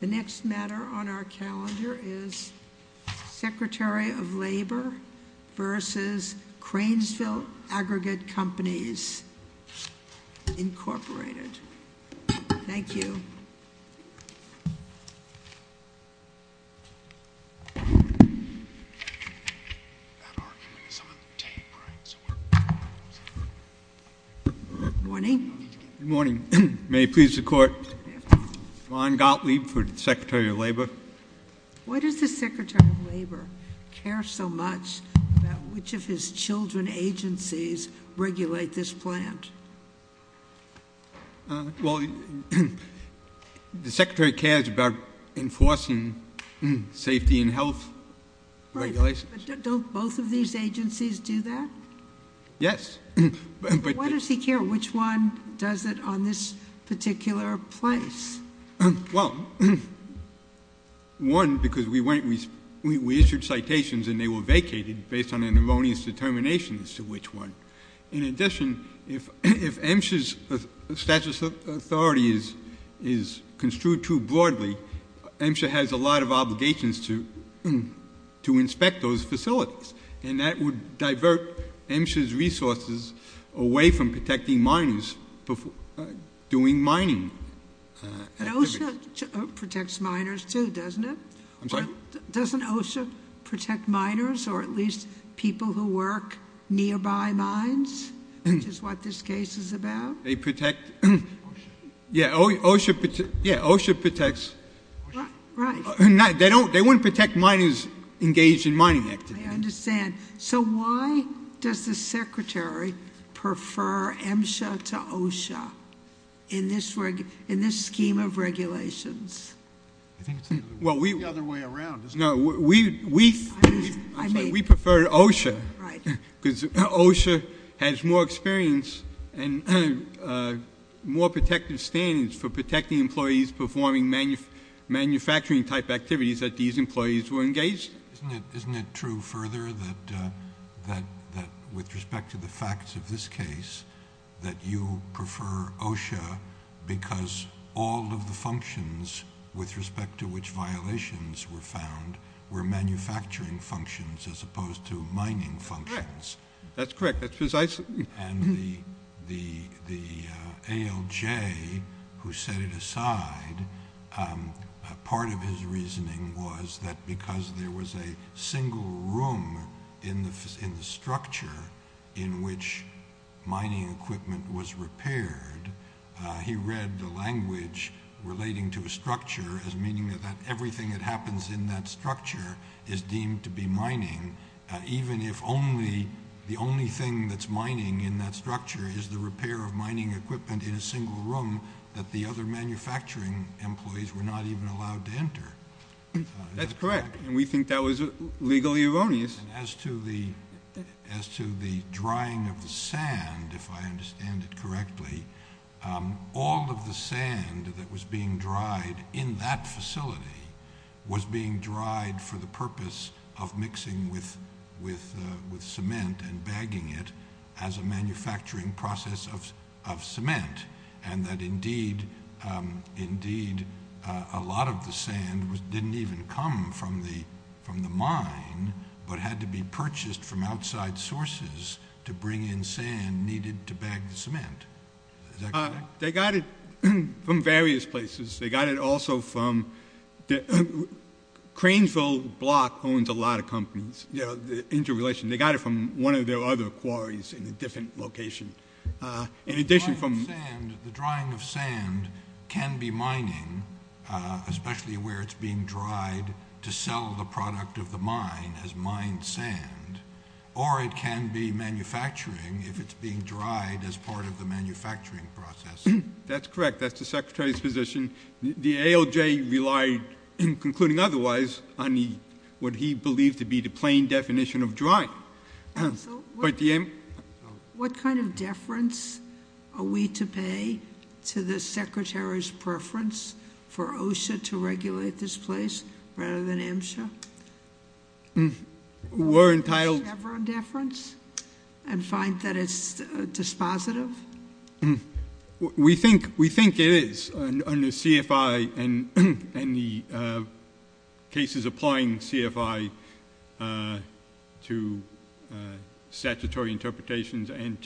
The next matter on our calendar is Secretary of Labor v. Cranesville Aggregate Companies, Incorporated. Thank you. Good morning. Good morning. May it please the court. Ron Gottlieb for Secretary of Labor. Why does the Secretary of Labor care so much about which of his children agencies regulate this plant? Well, the Secretary cares about enforcing safety and health regulations. Right, but don't both of these agencies do that? Yes, but... Why does he care which one does it on this particular place? Well, one, because we issued citations and they were vacated based on an erroneous determination as to which one. In addition, if MSHA's status of authority is construed too broadly, MSHA has a lot of obligations to inspect those facilities, and that would divert MSHA's resources away from protecting minors doing mining activities. And OSHA protects minors too, doesn't it? I'm sorry? Doesn't OSHA protect minors, or at least people who work nearby mines, which is what this case is about? They protect... Yeah, OSHA protects... Right. They wouldn't protect minors engaged in mining activities. I understand. So why does the Secretary prefer MSHA to OSHA in this scheme of regulations? I think it's the other way around, isn't it? No, we prefer OSHA, because OSHA has more experience and more protective standards for protecting employees performing manufacturing-type activities that these employees were engaged in. Isn't it true further that, with respect to the facts of this case, that you prefer OSHA because all of the functions with respect to which violations were found were manufacturing functions as opposed to mining functions? Correct. That's correct. That's precisely... And the ALJ, who set it aside, part of his reasoning was that because there was a single room in the structure in which mining equipment was repaired, he read the language relating to a structure as meaning that everything that happens in that structure is deemed to be mining, even if the only thing that's mining in that structure is the repair of mining equipment in a single room that the other manufacturing employees were not even allowed to enter. That's correct, and we think that was legally erroneous. As to the drying of the sand, if I understand it correctly, all of the sand that was being dried in that facility was being dried for the purpose of mixing with cement and bagging it as a manufacturing process of cement, and that indeed a lot of the sand didn't even come from the mine but had to be purchased from outside sources to bring in sand needed to bag the cement. They got it from various places. They got it also from... Cranesville Block owns a lot of companies, interrelation. They got it from one of their other quarries in a different location. The drying of sand can be mining, especially where it's being dried to sell the product of the mine as mined sand, or it can be manufacturing if it's being dried as part of the manufacturing process. That's correct. That's the Secretary's position. The ALJ relied, concluding otherwise, what he believed to be the plain definition of dry. What kind of deference are we to pay to the Secretary's preference for OSHA to regulate this place rather than MSHA? We're entitled... Is there ever a deference and find that it's dispositive? No. We think it is under CFI and the cases applying CFI to statutory interpretations and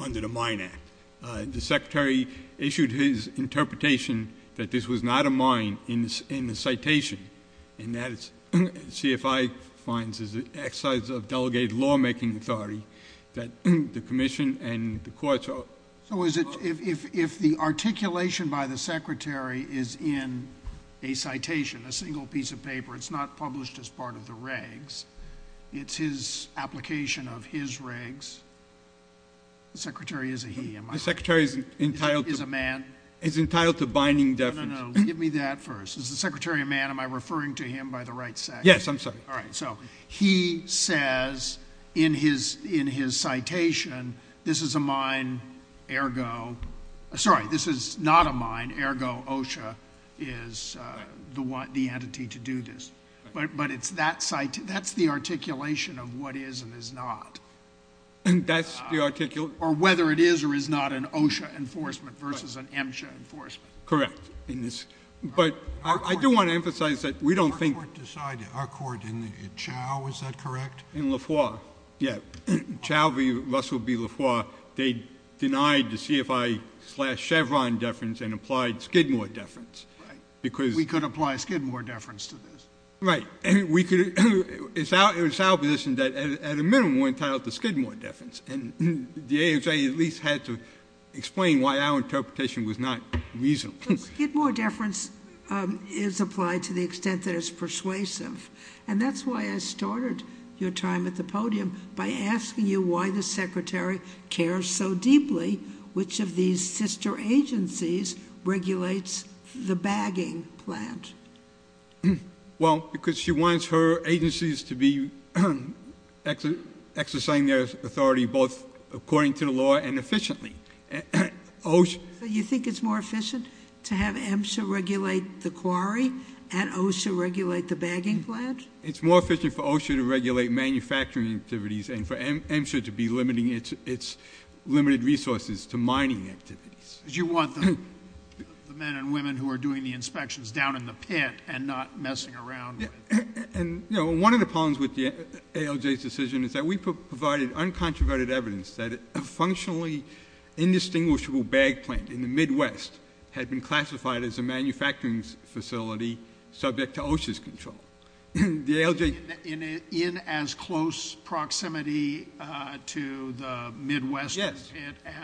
under the Mine Act. The Secretary issued his interpretation that this was not a mine in the citation, and that CFI finds as an exercise of delegated lawmaking authority that the Commission and the courts are... So if the articulation by the Secretary is in a citation, a single piece of paper, it's not published as part of the regs, it's his application of his regs, the Secretary is a he, am I right? The Secretary is entitled... Is a man? He's entitled to binding deference. No, no, no. Give me that first. Is the Secretary a man? Am I referring to him by the right sex? Yes, I'm sorry. All right. So he says in his citation, this is a mine, ergo... Sorry, this is not a mine, ergo OSHA is the entity to do this. But that's the articulation of what is and is not. That's the articulation... Or whether it is or is not an OSHA enforcement versus an MSHA enforcement. Correct. But I do want to emphasize that we don't think... Our court in the... Chau, is that correct? In Lafoye. Yeah. Chau v. Russell v. Lafoye, they denied the CFI slash Chevron deference and applied Skidmore deference. Right. We could apply Skidmore deference to this. Right. And we could... It's our position that at a minimum we're entitled to Skidmore deference. And the AHA at least had to explain why our interpretation was not reasonable. Skidmore deference is applied to the extent that it's persuasive. And that's why I started your time at the podium by asking you why the secretary cares so deeply which of these sister agencies regulates the bagging plant. Well, because she wants her agencies to be exercising their authority both according to the law and efficiently. OSHA... You think it's more efficient to have MSHA regulate the quarry and OSHA regulate the bagging plant? It's more efficient for OSHA to regulate manufacturing activities and for MSHA to be limiting its limited resources to mining activities. Because you want the men and women who are doing the inspections down in the pit and not messing around. And one of the problems with the ALJ's decision is that we provided uncontroverted evidence that a functionally indistinguishable bag plant in the Midwest had been classified as a manufacturing facility subject to OSHA's control. The ALJ... In as close proximity to the Midwest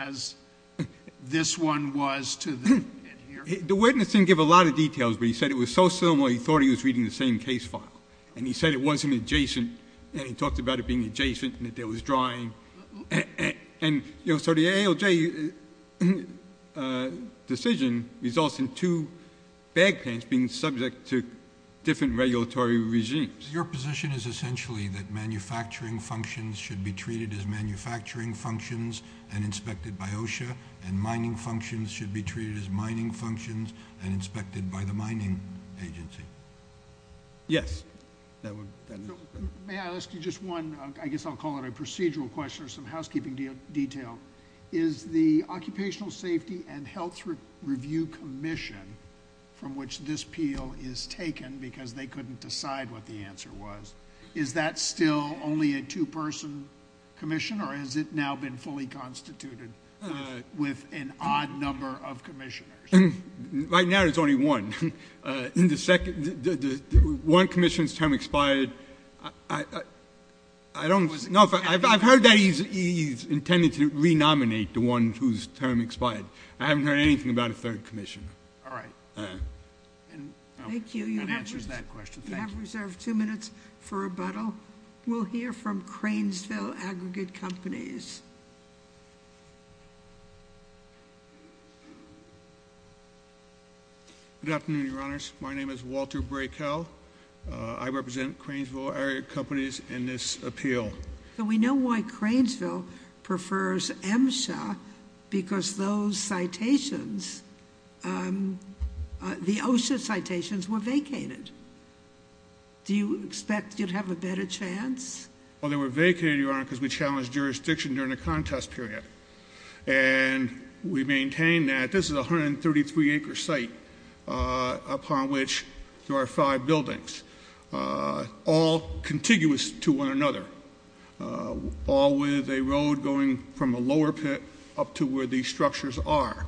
as this one was to the pit here? The witness didn't give a lot of details but he said it was so similar he thought he was reading the same case file. And he said it wasn't adjacent and he talked about it being adjacent and that there was drying. And so the ALJ decision results in two bag plants being subject to different regulatory regimes. Your position is essentially that manufacturing functions should be treated as manufacturing functions and inspected by OSHA and mining functions should be treated as mining functions and inspected by the mining agency? Yes. That one. May I ask you just one? I guess I'll call it a procedural question or some housekeeping detail. Is the Occupational Safety and Health Review Commission from which this appeal is taken because they couldn't decide what the answer was, is that still only a two-person commission or has it now been fully constituted with an odd number of commissioners? Right now there's only one. In the second, one commission's term expired. I don't know if I've heard that he's intended to re-nominate the one whose term expired. I haven't heard anything about a third commission. All right. Thank you. That answers that question. You have reserved two minutes for rebuttal. We'll hear from Cranesville Aggregate Companies. Good afternoon, Your Honors. My name is Walter Braykell. I represent Cranesville Aggregate Companies in this appeal. So we know why Cranesville prefers MSHA because those citations, the OSHA citations were vacated. Do you expect you'd have a better chance? Well, they were vacated, Your Honor, because we challenged jurisdiction to vacate them. During the contest period. And we maintain that this is a 133 acre site upon which there are five buildings. All contiguous to one another. All with a road going from a lower pit up to where these structures are.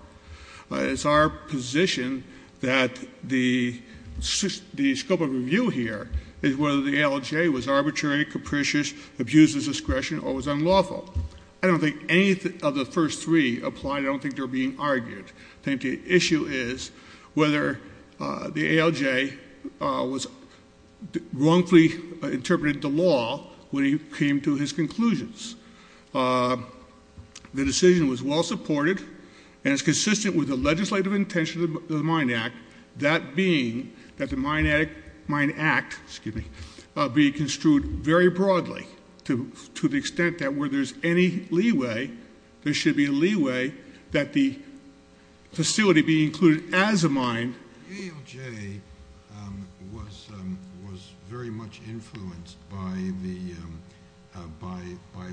It's our position that the scope of review here is whether the LHA was arbitrary, capricious, abused its discretion or was unlawful. I don't think any of the first three apply. I don't think they're being argued. I think the issue is whether the ALJ was wrongfully interpreted the law when he came to his conclusions. The decision was well supported and it's consistent with the legislative intention of the Mine Act. That being that the Mine Act, excuse me, be construed very broadly to the extent that where there's any leeway, there should be a leeway that the facility be included as a mine. The ALJ was very much influenced by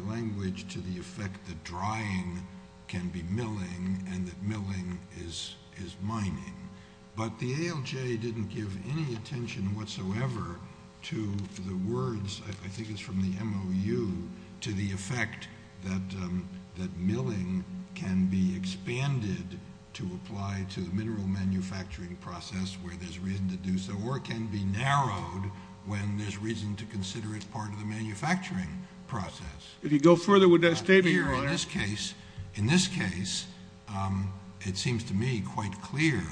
language to the effect that drying can be milling and that milling is mining. But the ALJ didn't give any attention whatsoever to the words, I think it's from the MOU, to the effect that milling can be expanded to apply to the mineral manufacturing process where there's reason to do so or can be narrowed when there's reason to consider it part of the manufacturing process. In this case, it seems to me quite clear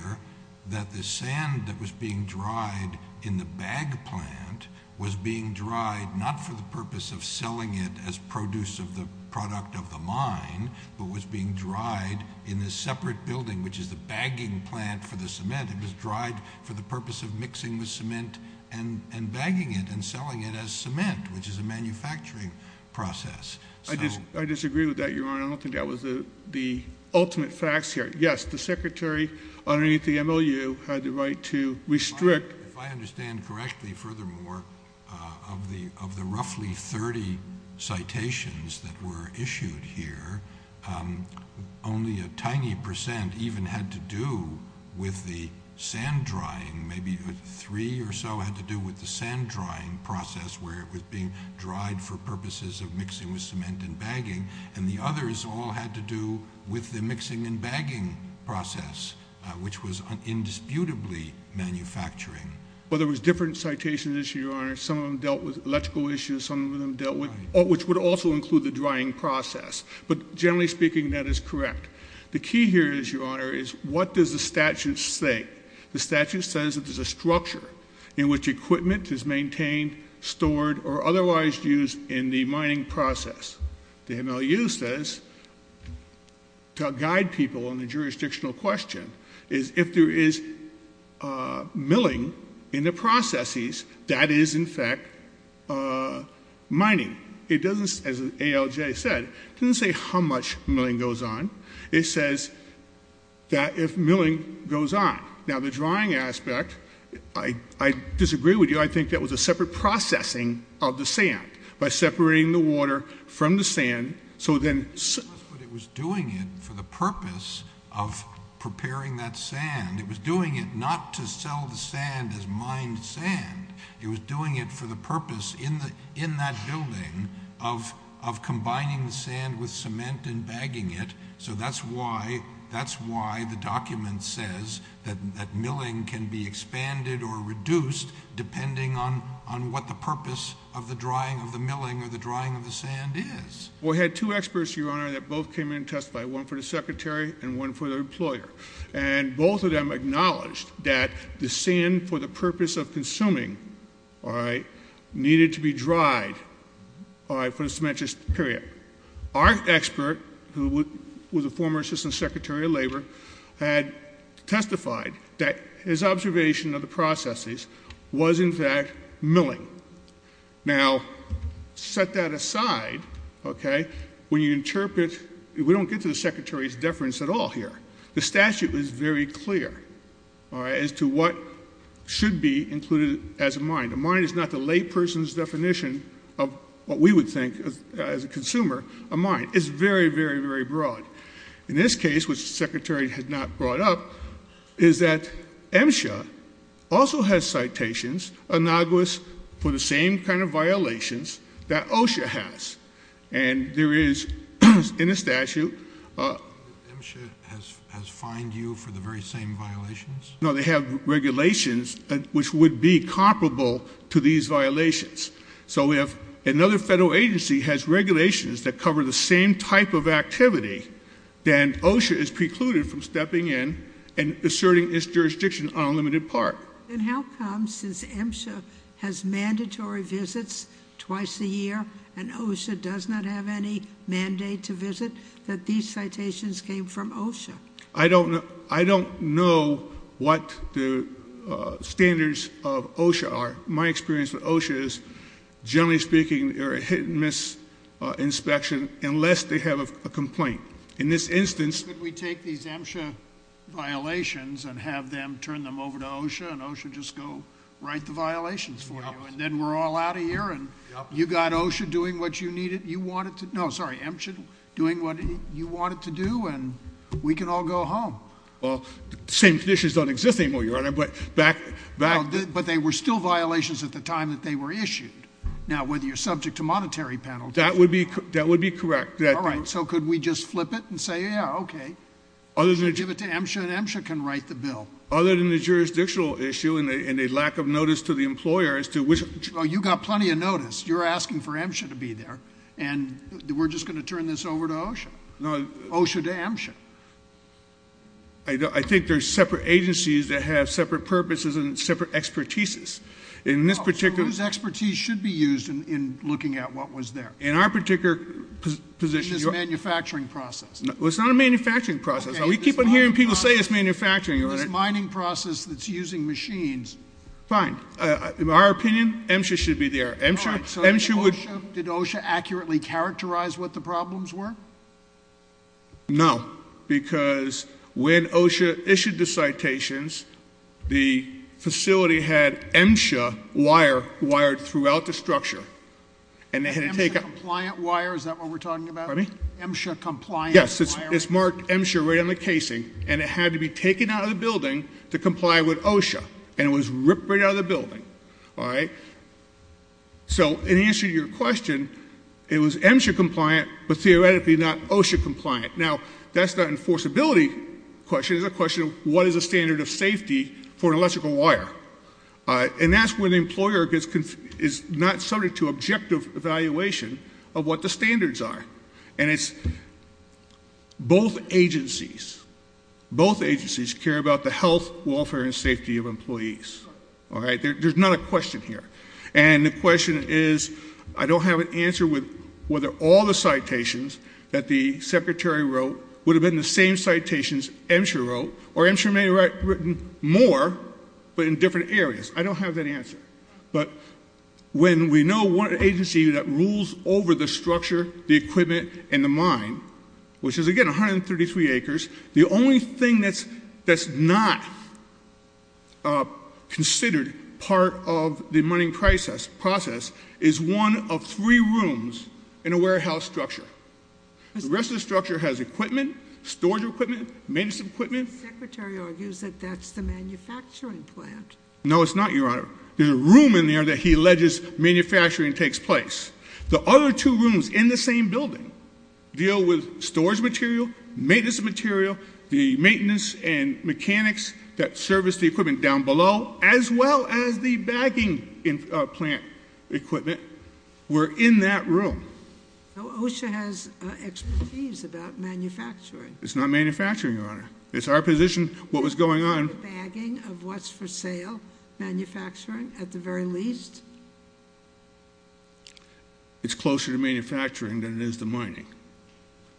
that the sand that was being dried in the bag plant was being dried not for the purpose of selling it as produce of the product of the mine, but was being dried in this separate building, which is the bagging plant for the cement. It was dried for the purpose of mixing the cement and bagging it and selling it as cement, which is a manufacturing process. I disagree with that, Your Honor. I don't think that was the ultimate facts here. Yes, the secretary underneath the MOU had the right to restrict... If I understand correctly, furthermore, of the roughly 30 citations that were issued here, only a tiny percent even had to do with the sand drying. Maybe three or so had to do with the sand drying process where it was being dried for purposes of mixing with cement and bagging, and the others all had to do with the mixing and bagging process, which was indisputably manufacturing. Well, there was different citations issued, Your Honor. Some of them dealt with electrical issues. Some of them dealt with... which would also include the drying process. But generally speaking, that is correct. The key here is, Your Honor, is what does the statute say? The statute says that there's a structure in which equipment is maintained, stored, or otherwise used in the mining process. The MOU says, to guide people on the jurisdictional question, is if there is milling in the processes, that is, in fact, mining. It doesn't, as ALJ said, it doesn't say how much milling goes on. It says that if milling goes on... Now, the drying aspect, I disagree with you. I think that was a separate processing of the sand by separating the water from the sand. So then... But it was doing it for the purpose of preparing that sand. It was doing it not to sell the sand as mined sand. It was doing it for the purpose in that building of combining the sand with cement and bagging it. So that's why the document says that milling can be expanded or reduced depending on what the purpose of the drying of the milling or the drying of the sand is. We had two experts, Your Honor, that both came in and testified, one for the secretary and one for the employer. And both of them acknowledged that the sand, for the purpose of consuming, all right, needed to be dried, all right, for a cementious period. Our expert, who was a former assistant secretary of labor, had testified that his observation of the processes was, in fact, milling. Now, set that aside, okay, when you interpret... We don't get to the secretary's deference at all here. The statute is very clear, all right, as to what should be included as a mine. A mine is not the layperson's definition of what we would think, as a consumer, a mine. It's very, very, very broad. In this case, which the secretary had not brought up, is that MSHA also has citations, innocuous for the same kind of violations that OSHA has. And there is, in the statute... MSHA has fined you for the very same violations? No, they have regulations which would be comparable to these violations. So if another federal agency has regulations that cover the same type of activity, then OSHA is precluded from stepping in and asserting its jurisdiction on a limited part. And how come, since MSHA has mandatory visits twice a year, and OSHA does not have any mandate to visit, that these citations came from OSHA? I don't know what the standards of OSHA are. My experience with OSHA is, generally speaking, they're a hit-and-miss inspection unless they have a complaint. In this instance... Could we take these MSHA violations and have them turn them over to OSHA, and OSHA just go write the violations for you, and then we're all out of here, and you got OSHA doing what you needed, you wanted to... No, sorry, MSHA doing what you wanted to do, and we can all go home. Well, the same conditions don't exist anymore, Your Honor, but back... But they were still violations at the time that they were issued. Now, whether you're subject to monetary penalties... That would be correct. All right, so could we just flip it and say, yeah, okay, give it to MSHA, and MSHA can write the bill. Other than the jurisdictional issue and a lack of notice to the employer as to which... Well, you got plenty of notice. You're asking for MSHA to be there, and we're just going to turn this over to OSHA, OSHA to MSHA. I think there's separate agencies that have separate purposes and separate expertises. In this particular... So whose expertise should be used in looking at what was there? In our particular position... In this manufacturing process. Well, it's not a manufacturing process. We keep on hearing people say it's manufacturing, Your Honor. In this mining process that's using machines. Fine. In our opinion, MSHA should be there. All right, so did OSHA accurately characterize what the problems were? No, because when OSHA issued the citations, the facility had MSHA wire wired throughout the structure, and they had to take out... MSHA-compliant wire, is that what we're talking about? Pardon me? MSHA-compliant wire? Yes, it's marked MSHA right on the casing, and it had to be taken out of the building to comply with OSHA, and it was ripped right out of the building, all right? So in answer to your question, it was MSHA-compliant, but theoretically not OSHA-compliant. Now, that's not an enforceability question. It's a question of what is the standard of safety for an electrical wire? And that's when the employer is not subject to objective evaluation of what the standards are. And it's both agencies... Both agencies care about the health, welfare and safety of employees, all right? There's not a question here. And the question is, I don't have an answer whether all the citations that the Secretary wrote would have been the same citations MSHA wrote, or MSHA may have written more, but in different areas. I don't have that answer. But when we know what agency that rules over the structure, the equipment and the mine, which is, again, 133 acres, the only thing that's not considered part of the mining process is one of three rooms in a warehouse structure. The rest of the structure has equipment, storage equipment, maintenance equipment. The Secretary argues that that's the manufacturing plant. No, it's not, Your Honor. There's a room in there that he alleges manufacturing takes place. The other two rooms in the same building deal with storage material, maintenance material, the maintenance and mechanics that service the equipment down below, as well as the bagging plant equipment. We're in that room. No, OSHA has expertise about manufacturing. It's not manufacturing, Your Honor. It's our position, what was going on— The bagging of what's for sale, manufacturing, at the very least. It's closer to manufacturing than it is to mining.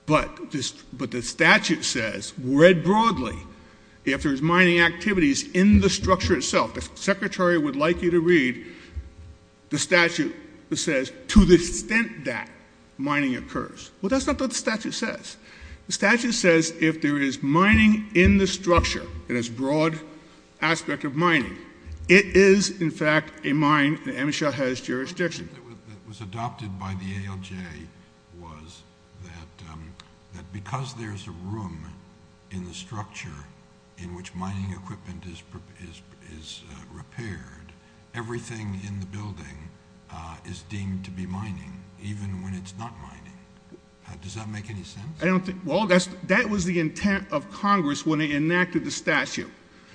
But the statute says, read broadly, if there's mining activities in the structure itself, the Secretary would like you to read the statute that says, to the extent that mining occurs. Well, that's not what the statute says. The statute says if there is mining in the structure, in this broad aspect of mining, it is, in fact, a mine, and MSHA has jurisdiction. What was adopted by the ALJ was that because there's a room in the structure in which mining equipment is repaired, everything in the building is deemed to be mining, even when it's not mining. Does that make any sense? I don't think—well, that was the intent of Congress when they enacted the statute,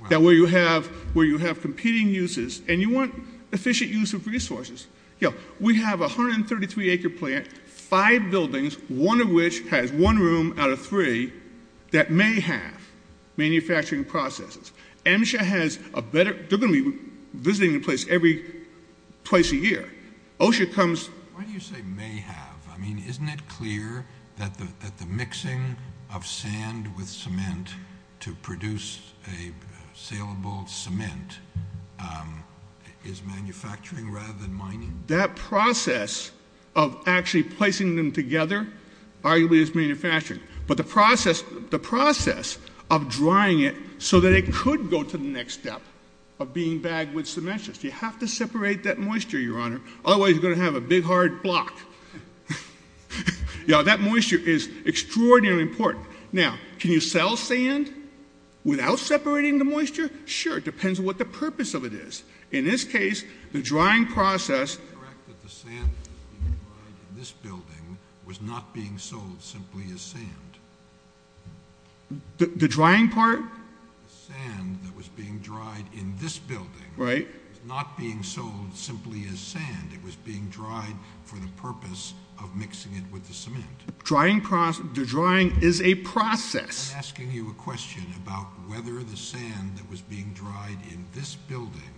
that where you have competing uses, and you want efficient use of resources. We have a 133-acre plant, five buildings, one of which has one room out of three that may have manufacturing processes. MSHA has a better—they're going to be visiting the place every place a year. OSHA comes— Why do you say may have? I mean, isn't it clear that the mixing of sand with cement to produce a saleable cement is manufacturing rather than mining? That process of actually placing them together arguably is manufacturing, but the process of drying it so that it could go to the next step of being bagged with cement, you have to separate that moisture, Your Honor. Otherwise, you're going to have a big, hard block. That moisture is extraordinarily important. Now, can you sell sand without separating the moisture? Sure. It depends on what the purpose of it is. In this case, the drying process— Is it correct that the sand that was being dried in this building was not being sold simply as sand? The drying part? The sand that was being dried in this building— Right. —was not being sold simply as sand. It was being dried for the purpose of mixing it with the cement. The drying is a process. I'm asking you a question about whether the sand that was being dried in this building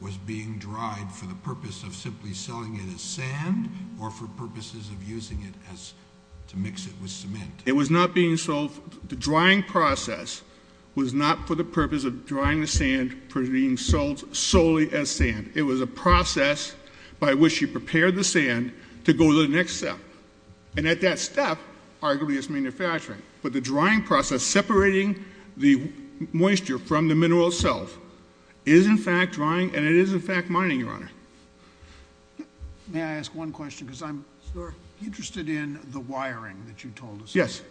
was being dried for the purpose of simply selling it as sand or for purposes of using it to mix it with cement. It was not being sold— The drying process was not for the purpose of drying the sand for being sold solely as sand. It was a process by which you prepare the sand to go to the next step. And at that step, arguably, it's manufacturing. But the drying process, separating the moisture from the mineral itself, is, in fact, drying, and it is, in fact, mining, Your Honor. May I ask one question? Because I'm interested in the wiring that you told us. Yes.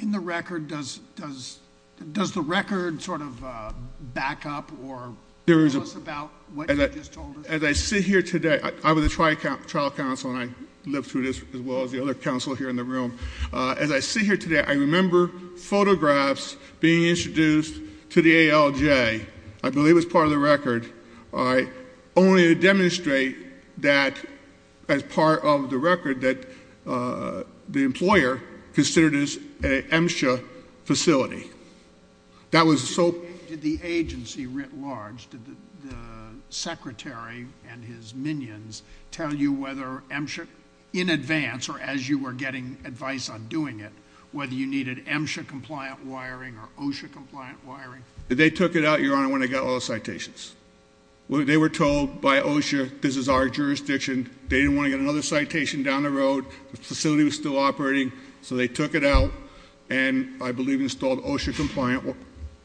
In the record, does the record sort of back up or tell us about what you just told us? As I sit here today— I was a trial counsel, and I lived through this as well as the other counsel here in the room. As I sit here today, I remember photographs being introduced to the ALJ, I believe, as part of the record, only to demonstrate that as part of the record that the employer considered it an MSHA facility. That was so— Did the agency writ large, did the secretary and his minions tell you whether MSHA, in advance, or as you were getting advice on doing it, whether you needed MSHA-compliant wiring or OSHA-compliant wiring? They took it out, Your Honor, when they got all the citations. They were told by OSHA, this is our jurisdiction. They didn't want to get another citation down the road. The facility was still operating, so they took it out and, I believe, installed OSHA-compliant,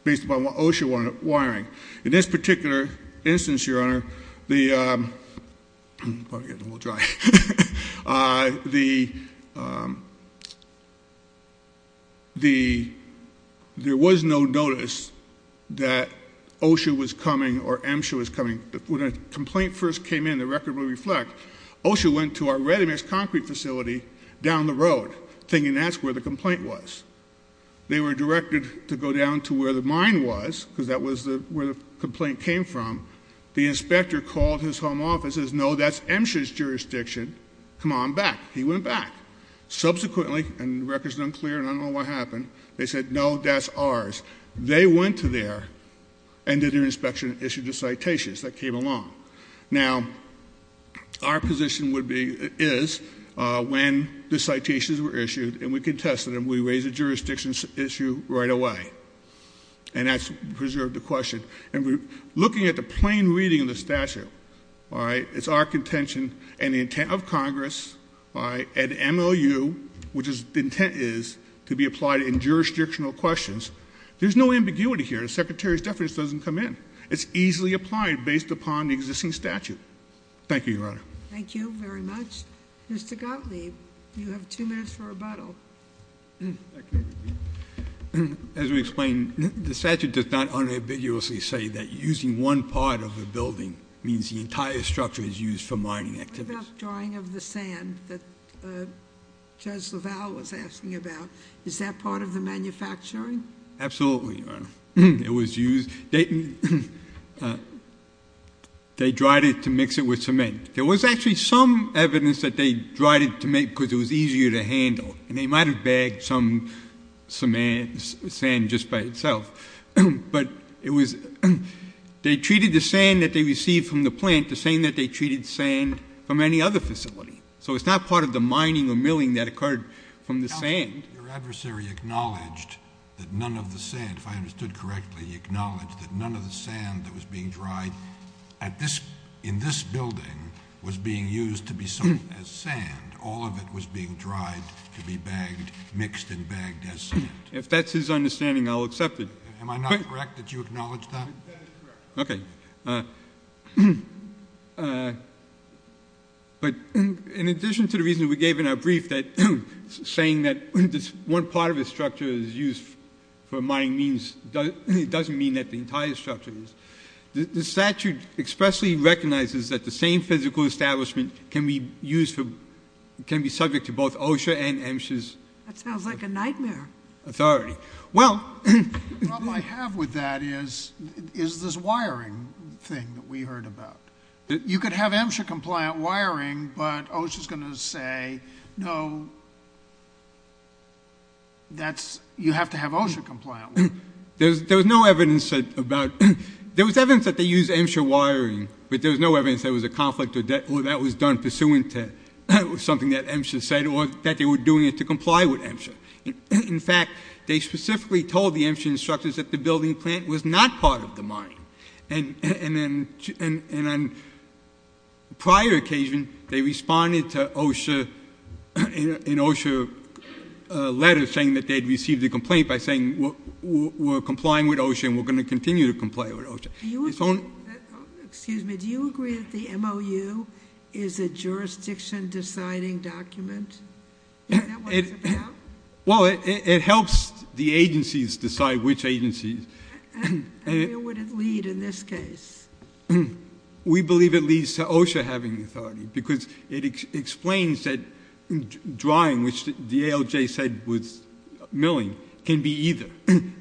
based upon OSHA wiring. In this particular instance, Your Honor, the—I'm probably getting a little dry. There was no notice that OSHA was coming or MSHA was coming. When a complaint first came in, the record will reflect, OSHA went to our ready-mix concrete facility down the road, thinking that's where the complaint was. They were directed to go down to where the mine was, because that was where the complaint came from. The inspector called his home office and says, no, that's MSHA's jurisdiction. Come on back. He went back. Subsequently, and the record's unclear and I don't know what happened, they said, no, that's ours. They went to there and did their inspection and issued the citations that came along. Now, our position would be—is, when the citations were issued and we contested them, we raised a jurisdiction issue right away. And that's preserved the question. And we're looking at the plain reading of the statute. It's our contention and the intent of Congress and MOU, which the intent is to be applied in jurisdictional questions. There's no ambiguity here. The secretary's deference doesn't come in. It's easily applied based upon the existing statute. Thank you, Your Honor. Mr. Gottlieb, you have two minutes for rebuttal. Okay. As we explained, the statute does not unambiguously say that using one part of a building means the entire structure is used for mining activities. What about drying of the sand that Judge LaValle was asking about? Is that part of the manufacturing? Absolutely, Your Honor. It was used—they dried it to mix it with cement. There was actually some evidence that they dried it to make because it was easier to handle. And they might have bagged some sand just by itself. But it was—they treated the sand that they received from the plant the same that they treated sand from any other facility. So it's not part of the mining or milling that occurred from the sand. Your adversary acknowledged that none of the sand, if I understood correctly, he acknowledged that none of the sand that was being dried in this building was being used to be sown as sand. All of it was being dried to be bagged, mixed and bagged as sand. If that's his understanding, I'll accept it. Am I not correct? Did you acknowledge that? That is correct. Okay. But in addition to the reason we gave in our brief, saying that one part of a structure is used for mining means— it doesn't mean that the entire structure is. The statute expressly recognizes that the same physical establishment can be used for—can be subject to both OSHA and MSHA's— That sounds like a nightmare. Authority. Well— The problem I have with that is this wiring thing that we heard about. You could have MSHA-compliant wiring, but OSHA's going to say, no, that's— you have to have OSHA-compliant wiring. There was no evidence about— there was evidence that they used MSHA wiring, but there was no evidence there was a conflict or that was done pursuant to something that MSHA said or that they were doing it to comply with MSHA. In fact, they specifically told the MSHA instructors that the building plant was not part of the mine. And then on prior occasion, they responded to OSHA in OSHA letters saying that they'd received a complaint by saying, and we're going to continue to comply with OSHA. Do you—excuse me. Do you agree that the MOU is a jurisdiction-deciding document? Is that what it's about? Well, it helps the agencies decide which agencies— And where would it lead in this case? We believe it leads to OSHA having authority because it explains that drawing, which the ALJ said was milling, can be either.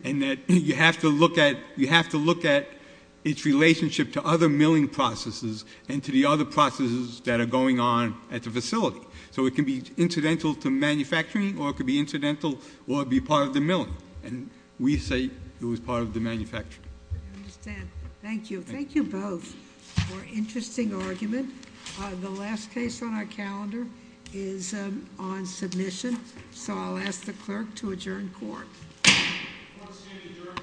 And that you have to look at— its relationship to other milling processes and to the other processes that are going on at the facility. So it can be incidental to manufacturing or it could be incidental or be part of the milling. And we say it was part of the manufacturing. I understand. Thank you. Thank you both for an interesting argument. The last case on our calendar is on submission. So I'll ask the clerk to adjourn court. Court is adjourned.